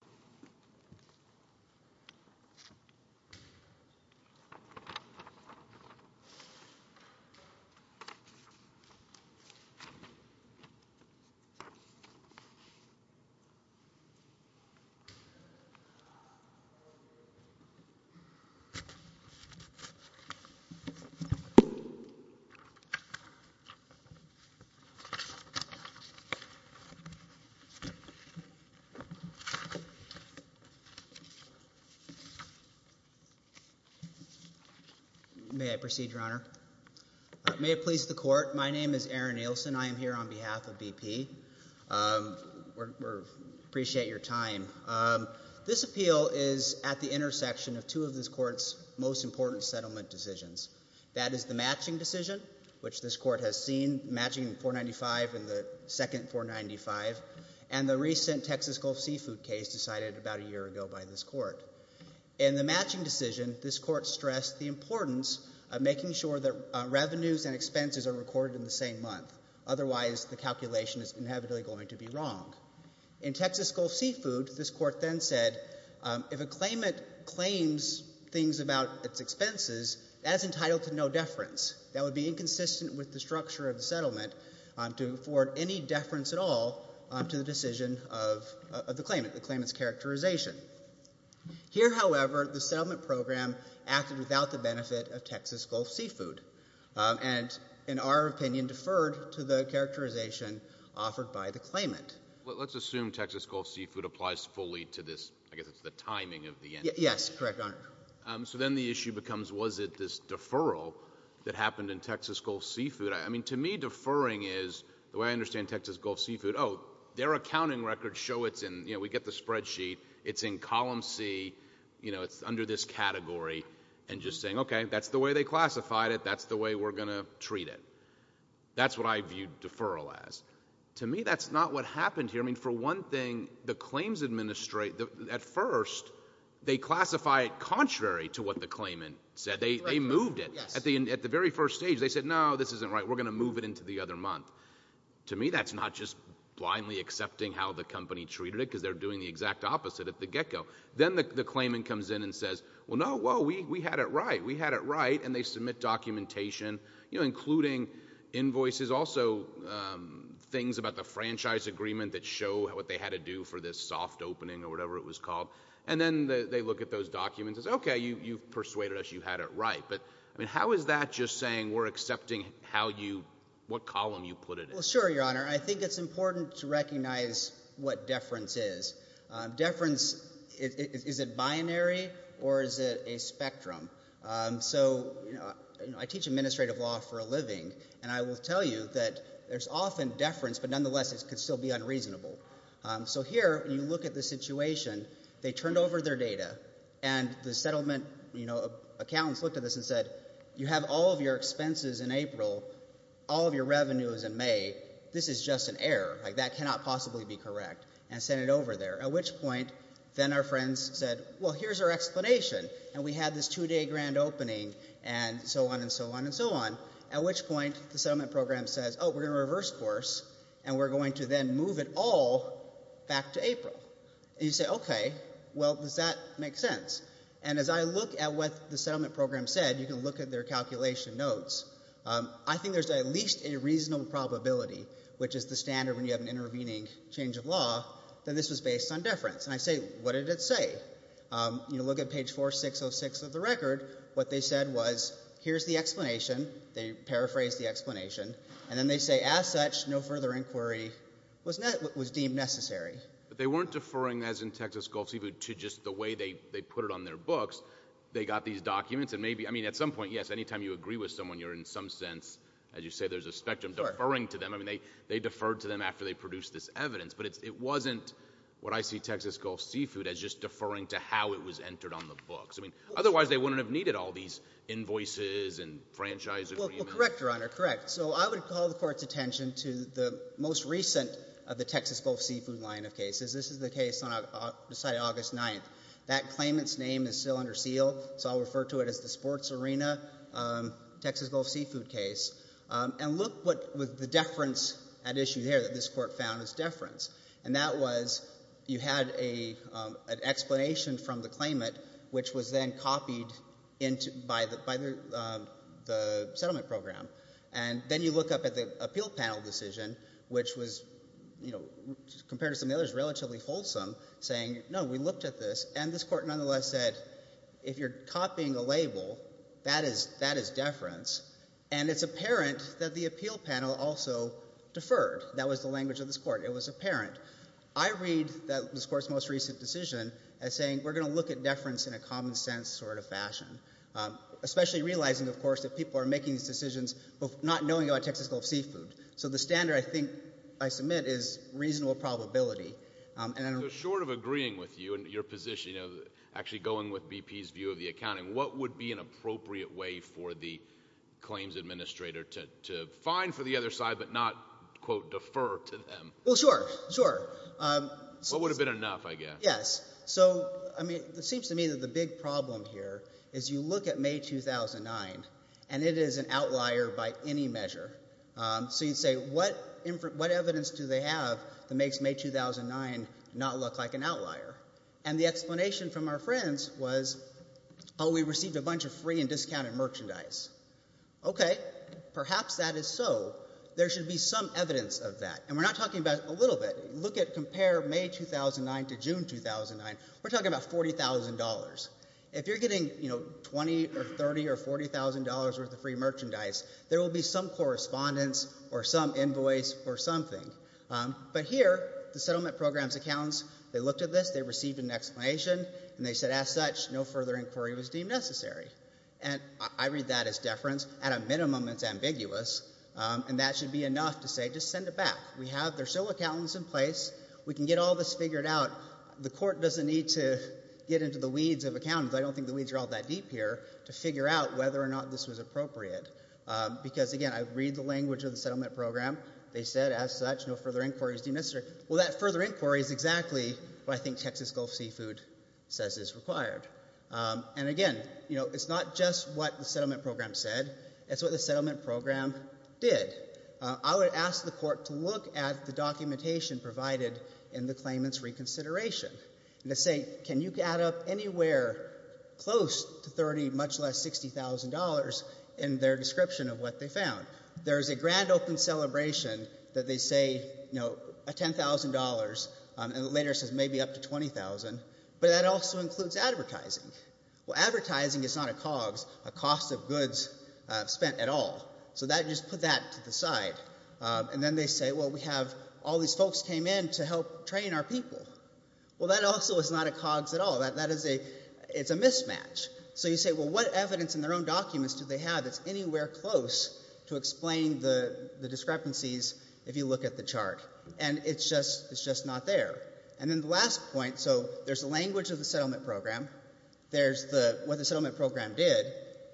Documentary footage of bruise on tree May I proceed, your honor? May it please the court, my name is Aaron Nielsen, I am here on behalf of BP, appreciate your time. This appeal is at the intersection of two of this court's most important settlement decisions. That is the matching decision, which this court has seen, matching 495 and the second decided about a year ago by this court. In the matching decision, this court stressed the importance of making sure that revenues and expenses are recorded in the same month, otherwise the calculation is inevitably going to be wrong. In Texas Gulf Seafood, this court then said, if a claimant claims things about its expenses, that is entitled to no deference. That would be inconsistent with the structure of the settlement to afford any deference at all to the decision of the claimant, the claimant's characterization. Here however, the settlement program acted without the benefit of Texas Gulf Seafood, and in our opinion, deferred to the characterization offered by the claimant. Let's assume Texas Gulf Seafood applies fully to this, I guess it's the timing of the end. Yes, correct, your honor. So then the issue becomes, was it this deferral that happened in Texas Gulf Seafood, I mean to me deferring is, the way I understand Texas Gulf Seafood, oh, their accounting records show it's in, you know, we get the spreadsheet, it's in column C, you know, it's under this category, and just saying, okay, that's the way they classified it, that's the way we're going to treat it. That's what I view deferral as. To me, that's not what happened here, I mean for one thing, the claims administrate, at first, they classify it contrary to what the claimant said, they moved it, at the very first stage, they said, no, this isn't right, we're going to move it into the other month. To me, that's not just blindly accepting how the company treated it, because they're doing the exact opposite at the get-go. Then the claimant comes in and says, well, no, whoa, we had it right, we had it right, and they submit documentation, you know, including invoices, also things about the franchise agreement that show what they had to do for this soft opening, or whatever it was called, and then they look at those documents and say, okay, you've persuaded us, you had it right. But, I mean, how is that just saying we're accepting how you, what column you put it in? Well, sure, Your Honor. I think it's important to recognize what deference is. Deference, is it binary, or is it a spectrum? So, you know, I teach administrative law for a living, and I will tell you that there's often deference, but nonetheless, it could still be unreasonable. So here, when you look at the situation, they turned over their data, and the settlement, you know, accountants looked at this and said, you have all of your expenses in April, all of your revenue is in May, this is just an error, like that cannot possibly be correct, and sent it over there. At which point, then our friends said, well, here's our explanation, and we had this two-day grand opening, and so on, and so on, and so on, at which point, the settlement program says, oh, we're going to reverse course, and we're going to then move it all back to April. And you say, okay, well, does that make sense? And as I look at what the settlement program said, you can look at their calculation notes, I think there's at least a reasonable probability, which is the standard when you have an intervening change of law, that this was based on deference, and I say, what did it say? You look at page 4606 of the record, what they said was, here's the explanation, they paraphrased the explanation, and then they say, as such, no further inquiry was deemed necessary. But they weren't deferring, as in Texas Gulf Seafood, to just the way they put it on their books, they got these documents, and maybe, I mean, at some point, yes, any time you agree with someone, you're in some sense, as you say, there's a spectrum, deferring to them, I mean, they deferred to them after they produced this evidence, but it wasn't what I see Texas Gulf Seafood as just deferring to how it was entered on the books. I mean, otherwise, they wouldn't have needed all these invoices and franchise agreements. Well, correct, Your Honor, correct. So I would call the Court's attention to the most recent of the Texas Gulf Seafood line of cases. This is the case on the site of August 9th. That claimant's name is still under seal, so I'll refer to it as the Sports Arena Texas Gulf Seafood case. And look what was the deference at issue there that this Court found as deference. And that was, you had an explanation from the claimant, which was then copied by the settlement program. And then you look up at the appeal panel decision, which was, you know, compared to some of the others, relatively wholesome, saying, no, we looked at this, and this Court nonetheless said if you're copying a label, that is deference. And it's apparent that the appeal panel also deferred. That was the language of this Court. It was apparent. I read this Court's most recent decision as saying, we're going to look at deference in a common sense sort of fashion, especially realizing, of course, that people are making these decisions not knowing about Texas Gulf Seafood. So the standard, I think, I submit, is reasonable probability. So short of agreeing with you and your position, actually going with BP's view of the accounting, what would be an appropriate way for the claims administrator to fine for the other side but not, quote, defer to them? Well, sure. Sure. What would have been enough, I guess. Yes. So, I mean, it seems to me that the big problem here is you look at May 2009, and it is an outlier by any measure. So you'd say, what evidence do they have that makes May 2009 not look like an outlier? And the explanation from our friends was, oh, we received a bunch of free and discounted merchandise. Okay. Perhaps that is so. There should be some evidence of that. And we're not talking about a little bit. Look at, compare May 2009 to June 2009. We're talking about $40,000. If you're getting, you know, $20,000 or $30,000 or $40,000 worth of free merchandise, there will be some correspondence or some invoice or something. But here, the settlement program's accountants, they looked at this, they received an explanation, and they said, as such, no further inquiry was deemed necessary. And I read that as deference. At a minimum, it's ambiguous. And that should be enough to say, just send it back. We have, there are still accountants in place. We can get all this figured out. The court doesn't need to get into the weeds of accountants, I don't think the weeds are all that deep here, to figure out whether or not this was appropriate. Because again, I read the language of the settlement program. They said, as such, no further inquiry is deemed necessary. Well, that further inquiry is exactly what I think Texas Gulf Seafood says is required. And again, you know, it's not just what the settlement program said. It's what the settlement program did. I would ask the court to look at the documentation provided in the claimant's reconsideration and to say, can you add up anywhere close to $30,000, much less $60,000, in their description of what they found? There's a grand open celebration that they say, you know, a $10,000, and it later says maybe up to $20,000, but that also includes advertising. Well, advertising is not a COGS, a cost of goods spent at all. So that, just put that to the side. And then they say, well, we have all these folks came in to help train our people. Well, that also is not a COGS at all. That is a, it's a mismatch. So you say, well, what evidence in their own documents do they have that's anywhere close to explain the discrepancies if you look at the chart? And it's just, it's just not there. And then the last point, so there's the language of the settlement program. There's the, what the settlement program did.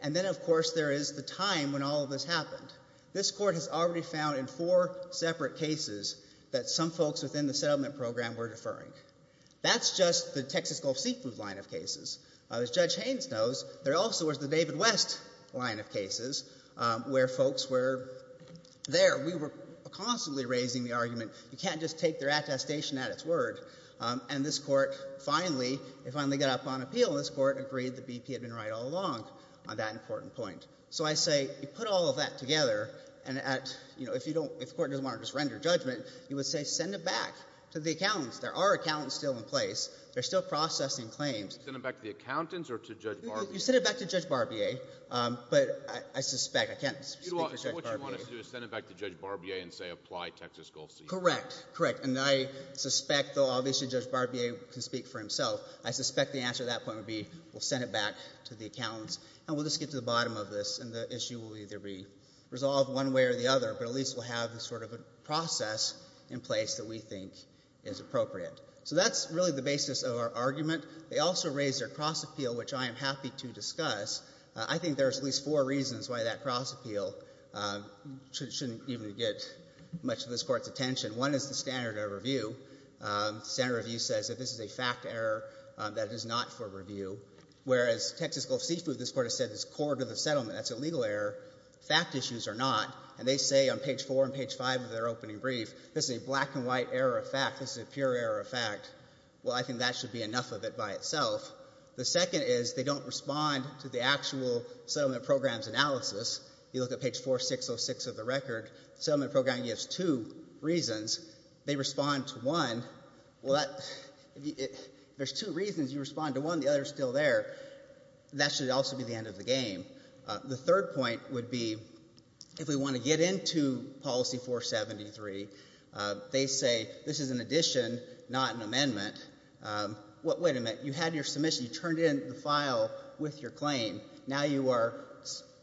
And then, of course, there is the time when all of this happened. This court has already found in four separate cases that some folks within the settlement program were deferring. That's just the Texas Gulf Seafood line of cases. As Judge Haynes knows, there also was the David West line of cases where folks were there. We were constantly raising the argument, you can't just take their attestation at its word. And this court finally, it finally got up on appeal. And this court agreed the BP had been right all along on that important point. So I say, you put all of that together and at, you know, if you don't, if the court doesn't want to just render judgment, you would say send it back to the accountants. There are accountants still in place. They're still processing claims. Send it back to the accountants or to Judge Barbier? You send it back to Judge Barbier. But I suspect, I can't speak to Judge Barbier. So what you want to do is send it back to Judge Barbier and say apply Texas Gulf Seafood? Correct. Correct. And I suspect, though obviously Judge Barbier can speak for himself, I suspect the answer to that point would be we'll send it back to the accountants. And we'll just get to the bottom of this. And the issue will either be resolved one way or the other. But at least we'll have this sort of a process in place that we think is appropriate. So that's really the basis of our argument. They also raised their cross appeal, which I am happy to discuss. I think there's at least four reasons why that cross appeal shouldn't even get much of this court's attention. One is the standard of review. Standard of review says that this is a fact error, that it is not for review. Whereas, Texas Gulf Seafood, this court has said is core to the settlement. That's a legal error. Fact issues are not. And they say on page four and page five of their opening brief, this is a black and white error of fact. This is a pure error of fact. Well, I think that should be enough of it by itself. The second is they don't respond to the actual settlement program's analysis. You look at page 4606 of the record. Settlement program gives two reasons. They respond to one. Well, there's two reasons you respond to one. The other is still there. That should also be the end of the game. The third point would be if we want to get into policy 473, they say, this is an addition, not an amendment. Wait a minute, you had your submission. You turned in the file with your claim. Now you are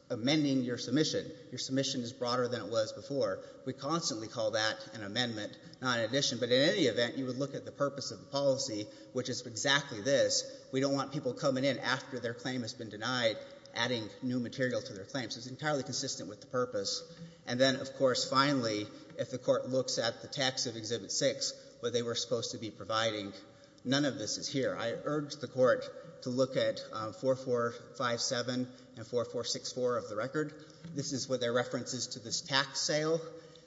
amending your submission. Your submission is broader than it was before. We constantly call that an amendment, not an addition. But in any event, you would look at the purpose of the policy, which is exactly this. We don't want people coming in after their claim has been denied, adding new material to their claims. It's entirely consistent with the purpose. And then, of course, finally, if the court looks at the text of Exhibit 6, what they were supposed to be providing, none of this is here. I urge the court to look at 4457 and 4464 of the record. This is what their reference is to this tax sale.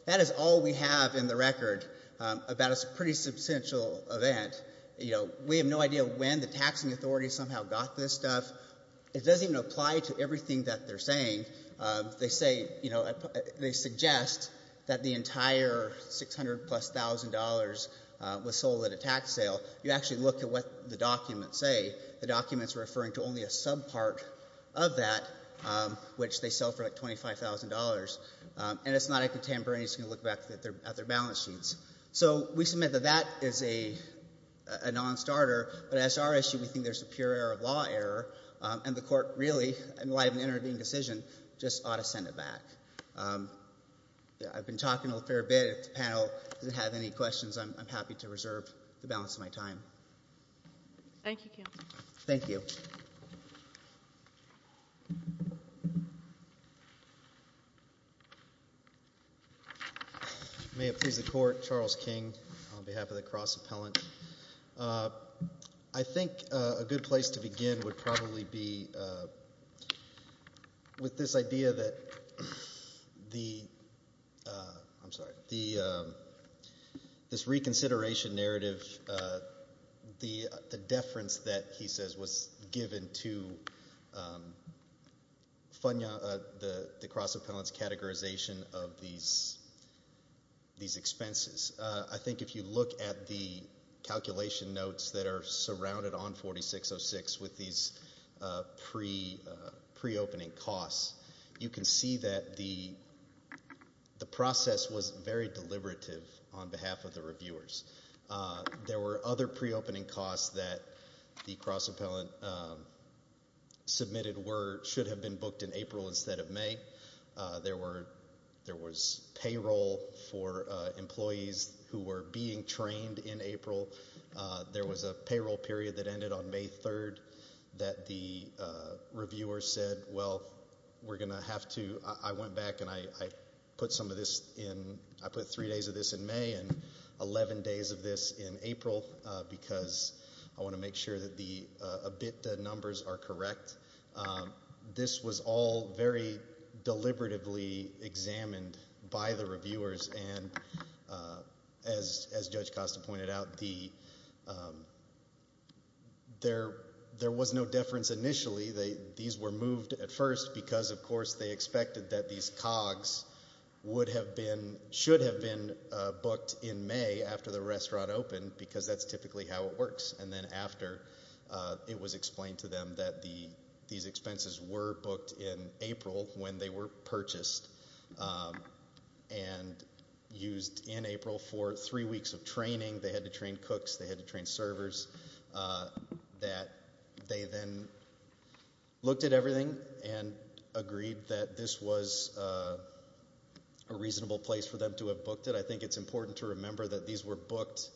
That is all we have in the record about a pretty substantial event. We have no idea when the taxing authority somehow got this stuff. It doesn't even apply to everything that they're saying. They say, they suggest that the entire $600,000 plus was sold at a tax sale. You actually look at what the documents say. The documents are referring to only a subpart of that, which they sell for like $25,000. And it's not a contemporary. It's going to look back at their balance sheets. So we submit that that is a non-starter. But as to our issue, we think there's a pure error of law error. And the court really, in light of an intervening decision, just ought to send it back. I've been talking a fair bit. If the panel doesn't have any questions, I'm happy to reserve the balance of my time. Thank you, Counselor. Thank you. May it please the Court, Charles King on behalf of the Cross Appellant. I think a good place to begin would probably be with this idea that the, I'm sorry, this reconsideration narrative, the deference that he says was given to the Cross Appellant's categorization of these expenses. I think if you look at the calculation notes that are surrounded on 4606 with these pre-opening costs, you can see that the process was very deliberative on behalf of the reviewers. There were other pre-opening costs that the Cross Appellant submitted were, should have been booked in April instead of May. There was payroll for employees who were being trained in April. There was a payroll period that ended on May 3rd that the reviewer said, well, we're going to have to, I went back and I put some of this in, I put three days of this in May and eleven days of this in April because I want to make sure that the ABITDA numbers are correct. This was all very deliberatively examined by the reviewers and as Judge Costa pointed out the, there was no deference initially. These were moved at first because of course they expected that these COGS would have been, should have been booked in May after the restaurant opened because that's typically how it works. And then after it was explained to them that these expenses were booked in April when they were purchased and used in April for three weeks of training. They had to train cooks, they had to train servers, that they then looked at everything and agreed that this was a reasonable place for them to have booked it. I think it's important to remember that these were booked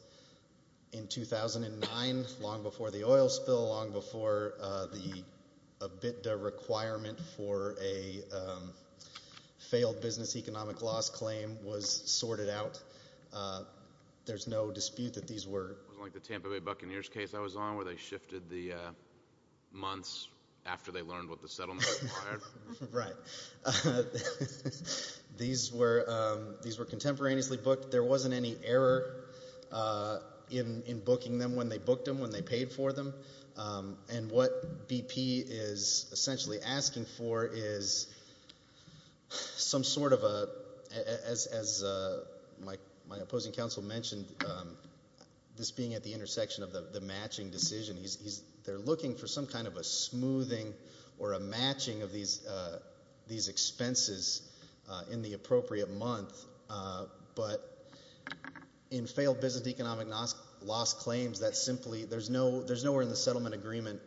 in 2009, long before the oil spill, long before the ABITDA requirement for a failed business economic loss claim was sorted out. There's no dispute that these were. It wasn't like the Tampa Bay Buccaneers case I was on where they shifted the months after they learned what the settlement required. Right. These were contemporaneously booked. There wasn't any error in booking them when they booked them, when they paid for them. And what BP is essentially asking for is some sort of a, as my opposing counsel mentioned, this being at the intersection of the matching decision. They're looking for some kind of a smoothing or a matching of these expenses in the appropriate month, but in failed business economic loss claims, there's nowhere in the settlement agreement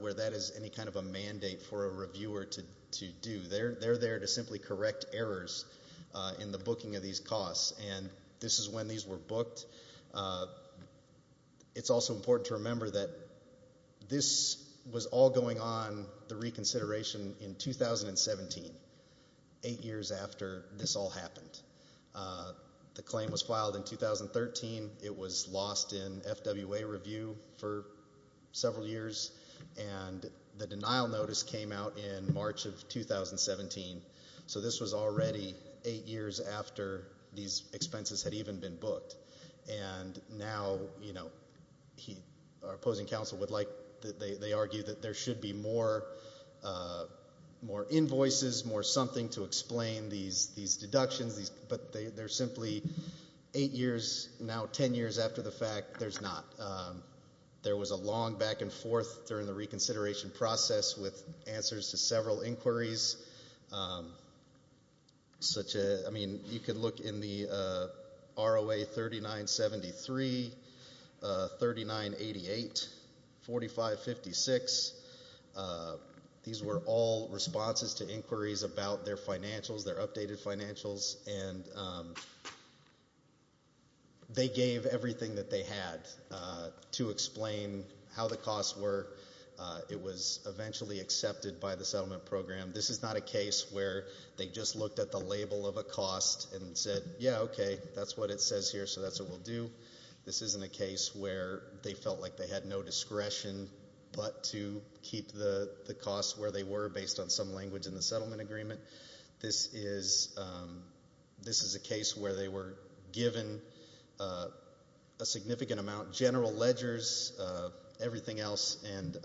where that is any kind of a mandate for a reviewer to do. They're there to simply correct errors in the booking of these costs, and this is when these were booked. It's also important to remember that this was all going on, the reconsideration, in 2017, eight years after this all happened. The claim was filed in 2013. It was lost in FWA review for several years, and the denial notice came out in March of 2017. So this was already eight years after these expenses had even been booked, and now, you know, our opposing counsel would like, they argue that there should be more invoices, more something to explain these deductions, but they're simply eight years, now ten years after the fact, there's not. There was a long back and forth during the reconsideration process with answers to several inquiries. Such a, I mean, you could look in the ROA 3973, 3988, 4556. These were all responses to inquiries about their financials, their updated financials, and they gave everything that they had to explain how the costs were. It was eventually accepted by the settlement program. This is not a case where they just looked at the label of a cost and said, yeah, okay, that's what it says here, so that's what we'll do. This isn't a case where they felt like they had no discretion but to keep the costs where they were based on some language in the settlement agreement. This is a case where they were given a significant amount, general ledgers, everything else, and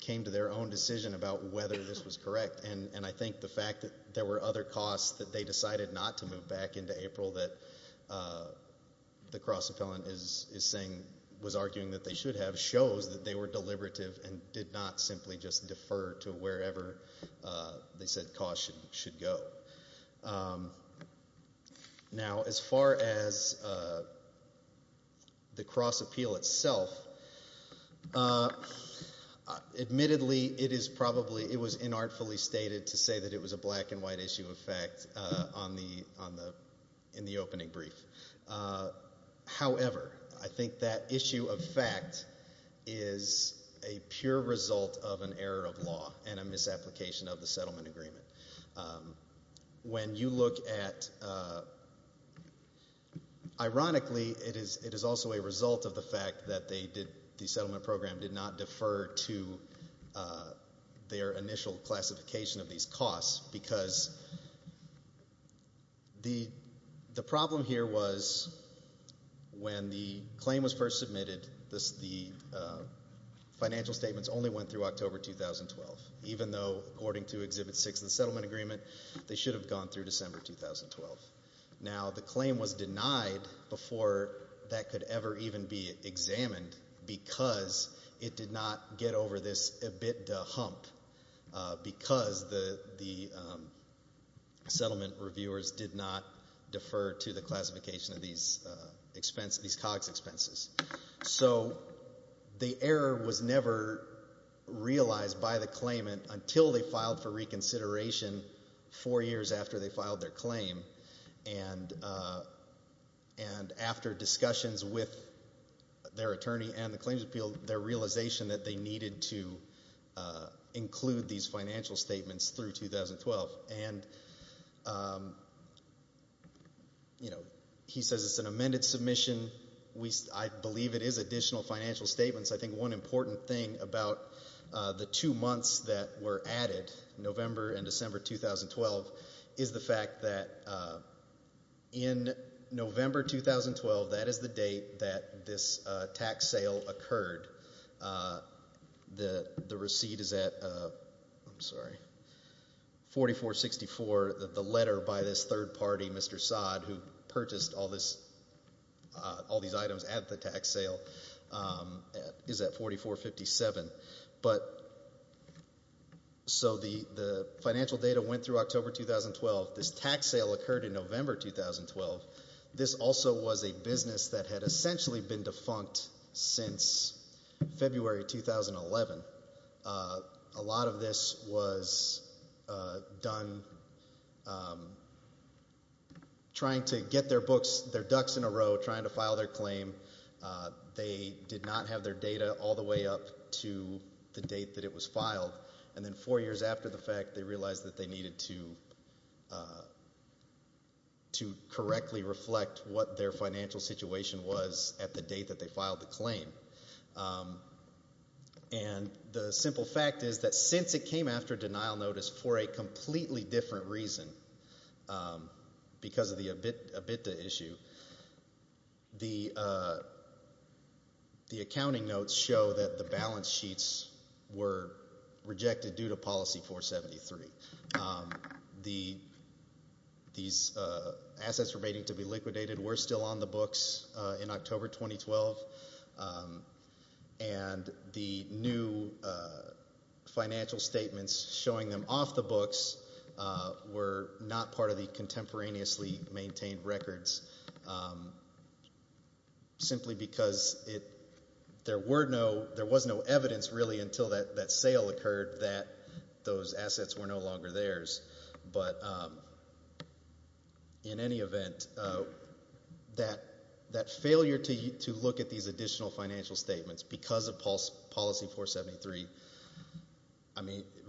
came to their own decision about whether this was correct. And I think the fact that there were other costs that they decided not to move back into April that the cross-appellant is saying, was arguing that they should have, shows that they were deliberative and did not simply just defer to wherever they said costs should go. Now, as far as the cross-appeal itself, admittedly it is probably, it was inartfully stated to say that it was a black and white issue of fact on the, in the opening brief. However, I think that issue of fact is a pure result of an error of law and a misapplication of the settlement agreement. When you look at, ironically, it is also a result of the fact that they did, the settlement program did not defer to their initial classification of these costs because the problem here was when the claim was first submitted, the financial statements only went through October 2012, even though according to Exhibit 6 of the settlement agreement, they should have gone through December 2012. Now, the claim was denied before that could ever even be examined because it did not get over this EBITDA hump because the settlement reviewers did not defer to the classification of these expense, these COGS expenses. So, the error was never realized by the claimant until they filed for reconsideration four years after they filed their claim. And after discussions with their attorney and the claims appeal, their realization that they needed to include these financial statements through 2012. And, you know, he says it is an amended submission. We, I believe it is additional financial statements. I think one important thing about the two months that were added, November and December 2012, is the fact that in November 2012, that is the date that this tax sale occurred. The receipt is at, I'm sorry, 4464, the letter by this third party, Mr. Saad, who purchased all these items at the tax sale, is at 4457. But, so the financial data went through October 2012. This tax sale occurred in November 2012. This also was a business that had essentially been defunct since February 2011. A lot of this was done trying to get their books, their ducks in a row, trying to file their claim. They did not have their data all the way up to the date that it was filed. And then four years after the fact, they realized that they needed to correctly reflect what their financial situation was at the date that they filed the claim. And the simple fact is that since it came after denial notice for a completely different reason because of the EBITDA issue, the accounting notes show that the balance sheets were rejected due to policy 473. These assets remaining to be liquidated were still on the books in October 2012. And the new financial statements showing them off the books were not part of the contemporaneously maintained records simply because there was no evidence really until that sale occurred that those assets were no longer theirs. But in any event, that failure to look at these additional financial statements because of policy 473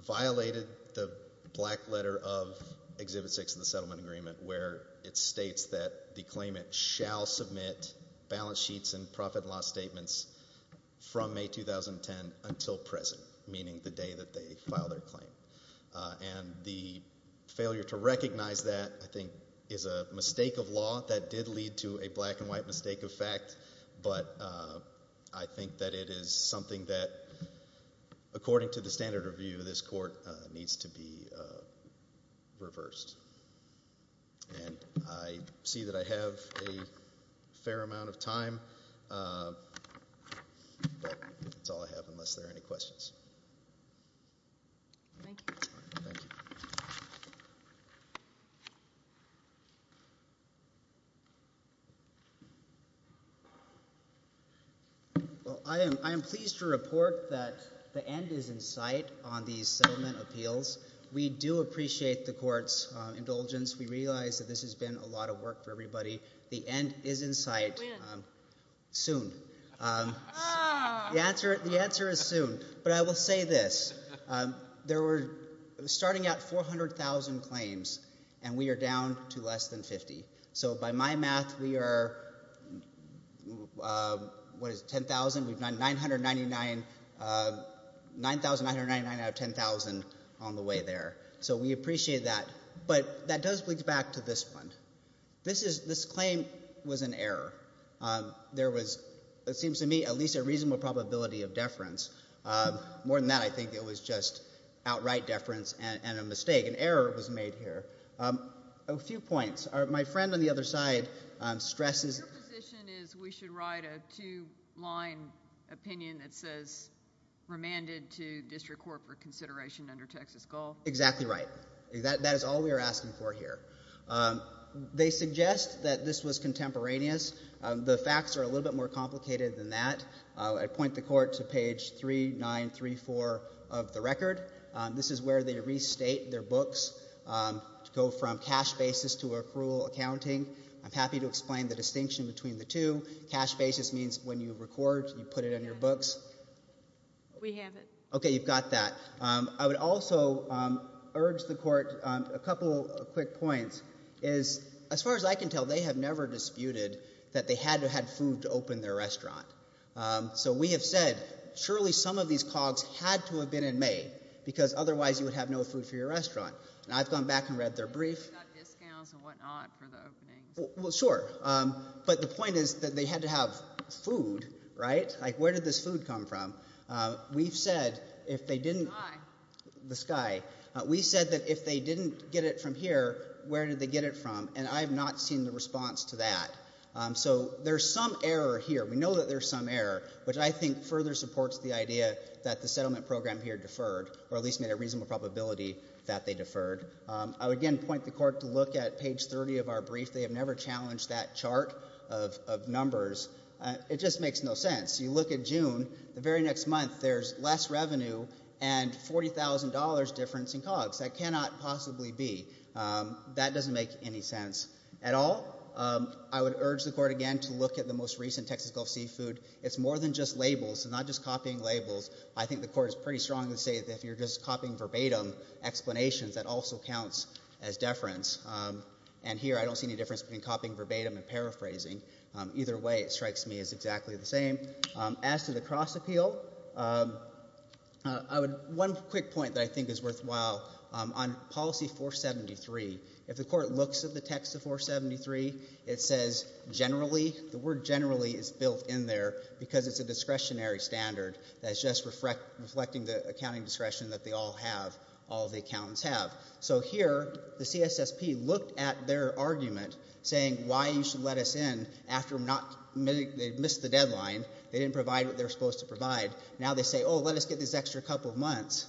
violated the black letter of Exhibit 6 of the settlement agreement where it states that the claimant shall submit balance sheets and profit and loss statements from May 2010 until present, meaning the day that they file their claim. And the failure to recognize that I think is a mistake of law that did lead to a black and white mistake of fact, but I think that it is something that according to the standard review, this court needs to be reversed. And I see that I have a fair amount of time, but that's all I have unless there are any questions. Thank you. Thank you. Well, I am pleased to report that the end is in sight on these settlement appeals. We do appreciate the court's indulgence. We realize that this has been a lot of work for everybody. The end is in sight. When? Soon. The answer is soon. But I will say this, there were starting at 400,000 claims and we are down to less than 50. So by my math, we are, what is it, 10,000? We've done 999 out of 10,000 on the way there. So we appreciate that. But that does lead back to this one. This claim was an error. There was, it seems to me, at least a reasonable probability of deference. More than that, I think it was just outright deference and a mistake. An error was made here. A few points. My friend on the other side stresses. Your position is we should write a two-line opinion that says remanded to district court for consideration under Texas goal? Exactly right. That is all we are asking for here. They suggest that this was contemporaneous. The facts are a little bit more complicated than that. I point the court to page 3934 of the record. This is where they restate their books to go from cash basis to accrual accounting. I'm happy to explain the distinction between the two. Cash basis means when you record, you put it in your books. We have it. Okay, you've got that. I would also urge the court, a couple of quick points, is as far as I can tell, they have never disputed that they had to have food to open their restaurant. So we have said, surely some of these cogs had to have been in May because otherwise you would have no food for your restaurant. And I've gone back and read their brief. They got discounts and whatnot for the openings. Well, sure. But the point is that they had to have food, right? Like where did this food come from? We've said if they didn't, the sky, we said that if they didn't get it from here, where did they get it from? And I have not seen the response to that. So there's some error here. We know that there's some error, which I think further supports the idea that the settlement program here deferred, or at least made a reasonable probability that they deferred. I would again point the court to look at page 30 of our brief. They have never challenged that chart of numbers. It just makes no sense. You look at June, the very next month, there's less revenue and $40,000 difference in cogs. That cannot possibly be. That doesn't make any sense at all. I would urge the court again to look at the most recent Texas Gulf Seafood. It's more than just labels and not just copying labels. I think the court is pretty strong to say that if you're just copying verbatim explanations, that also counts as deference. And here I don't see any difference between copying verbatim and paraphrasing. Either way, it strikes me as exactly the same. As to the cross appeal, one quick point that I think is worthwhile on policy 473, if the court looks at the text of 473, it says generally, the word generally is built in there because it's a discretionary standard that's just reflecting the accounting discretion that they all have, all the accountants have. So here, the CSSP looked at their argument saying why you should let us in after they missed the deadline. They didn't provide what they're supposed to provide. Now they say, oh, let us get this extra couple of months.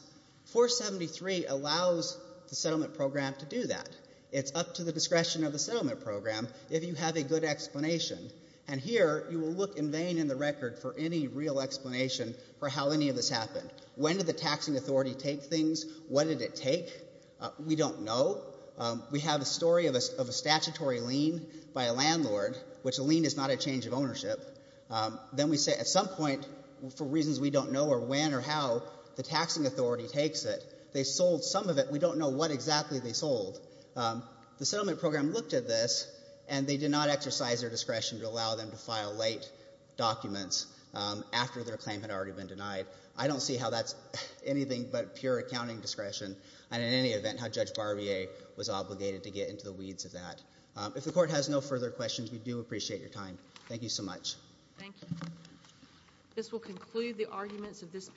473 allows the settlement program to do that. It's up to the discretion of the settlement program if you have a good explanation. And here you will look in vain in the record for any real explanation for how any of this happened. When did the taxing authority take things? What did it take? We don't know. We have a story of a statutory lien by a landlord, which a lien is not a change of ownership. Then we say at some point, for reasons we don't know or when or how, the taxing authority takes it. They sold some of it. We don't know what exactly they sold. The settlement program looked at this and they did not exercise their discretion to allow them to file late documents after their claim had already been denied. I don't see how that's anything but pure accounting discretion. And in any event, how Judge Barbier was obligated to get into the weeds of that. If the court has no further questions, we do appreciate your time. Thank you so much. Thank you. This will conclude the arguments of this.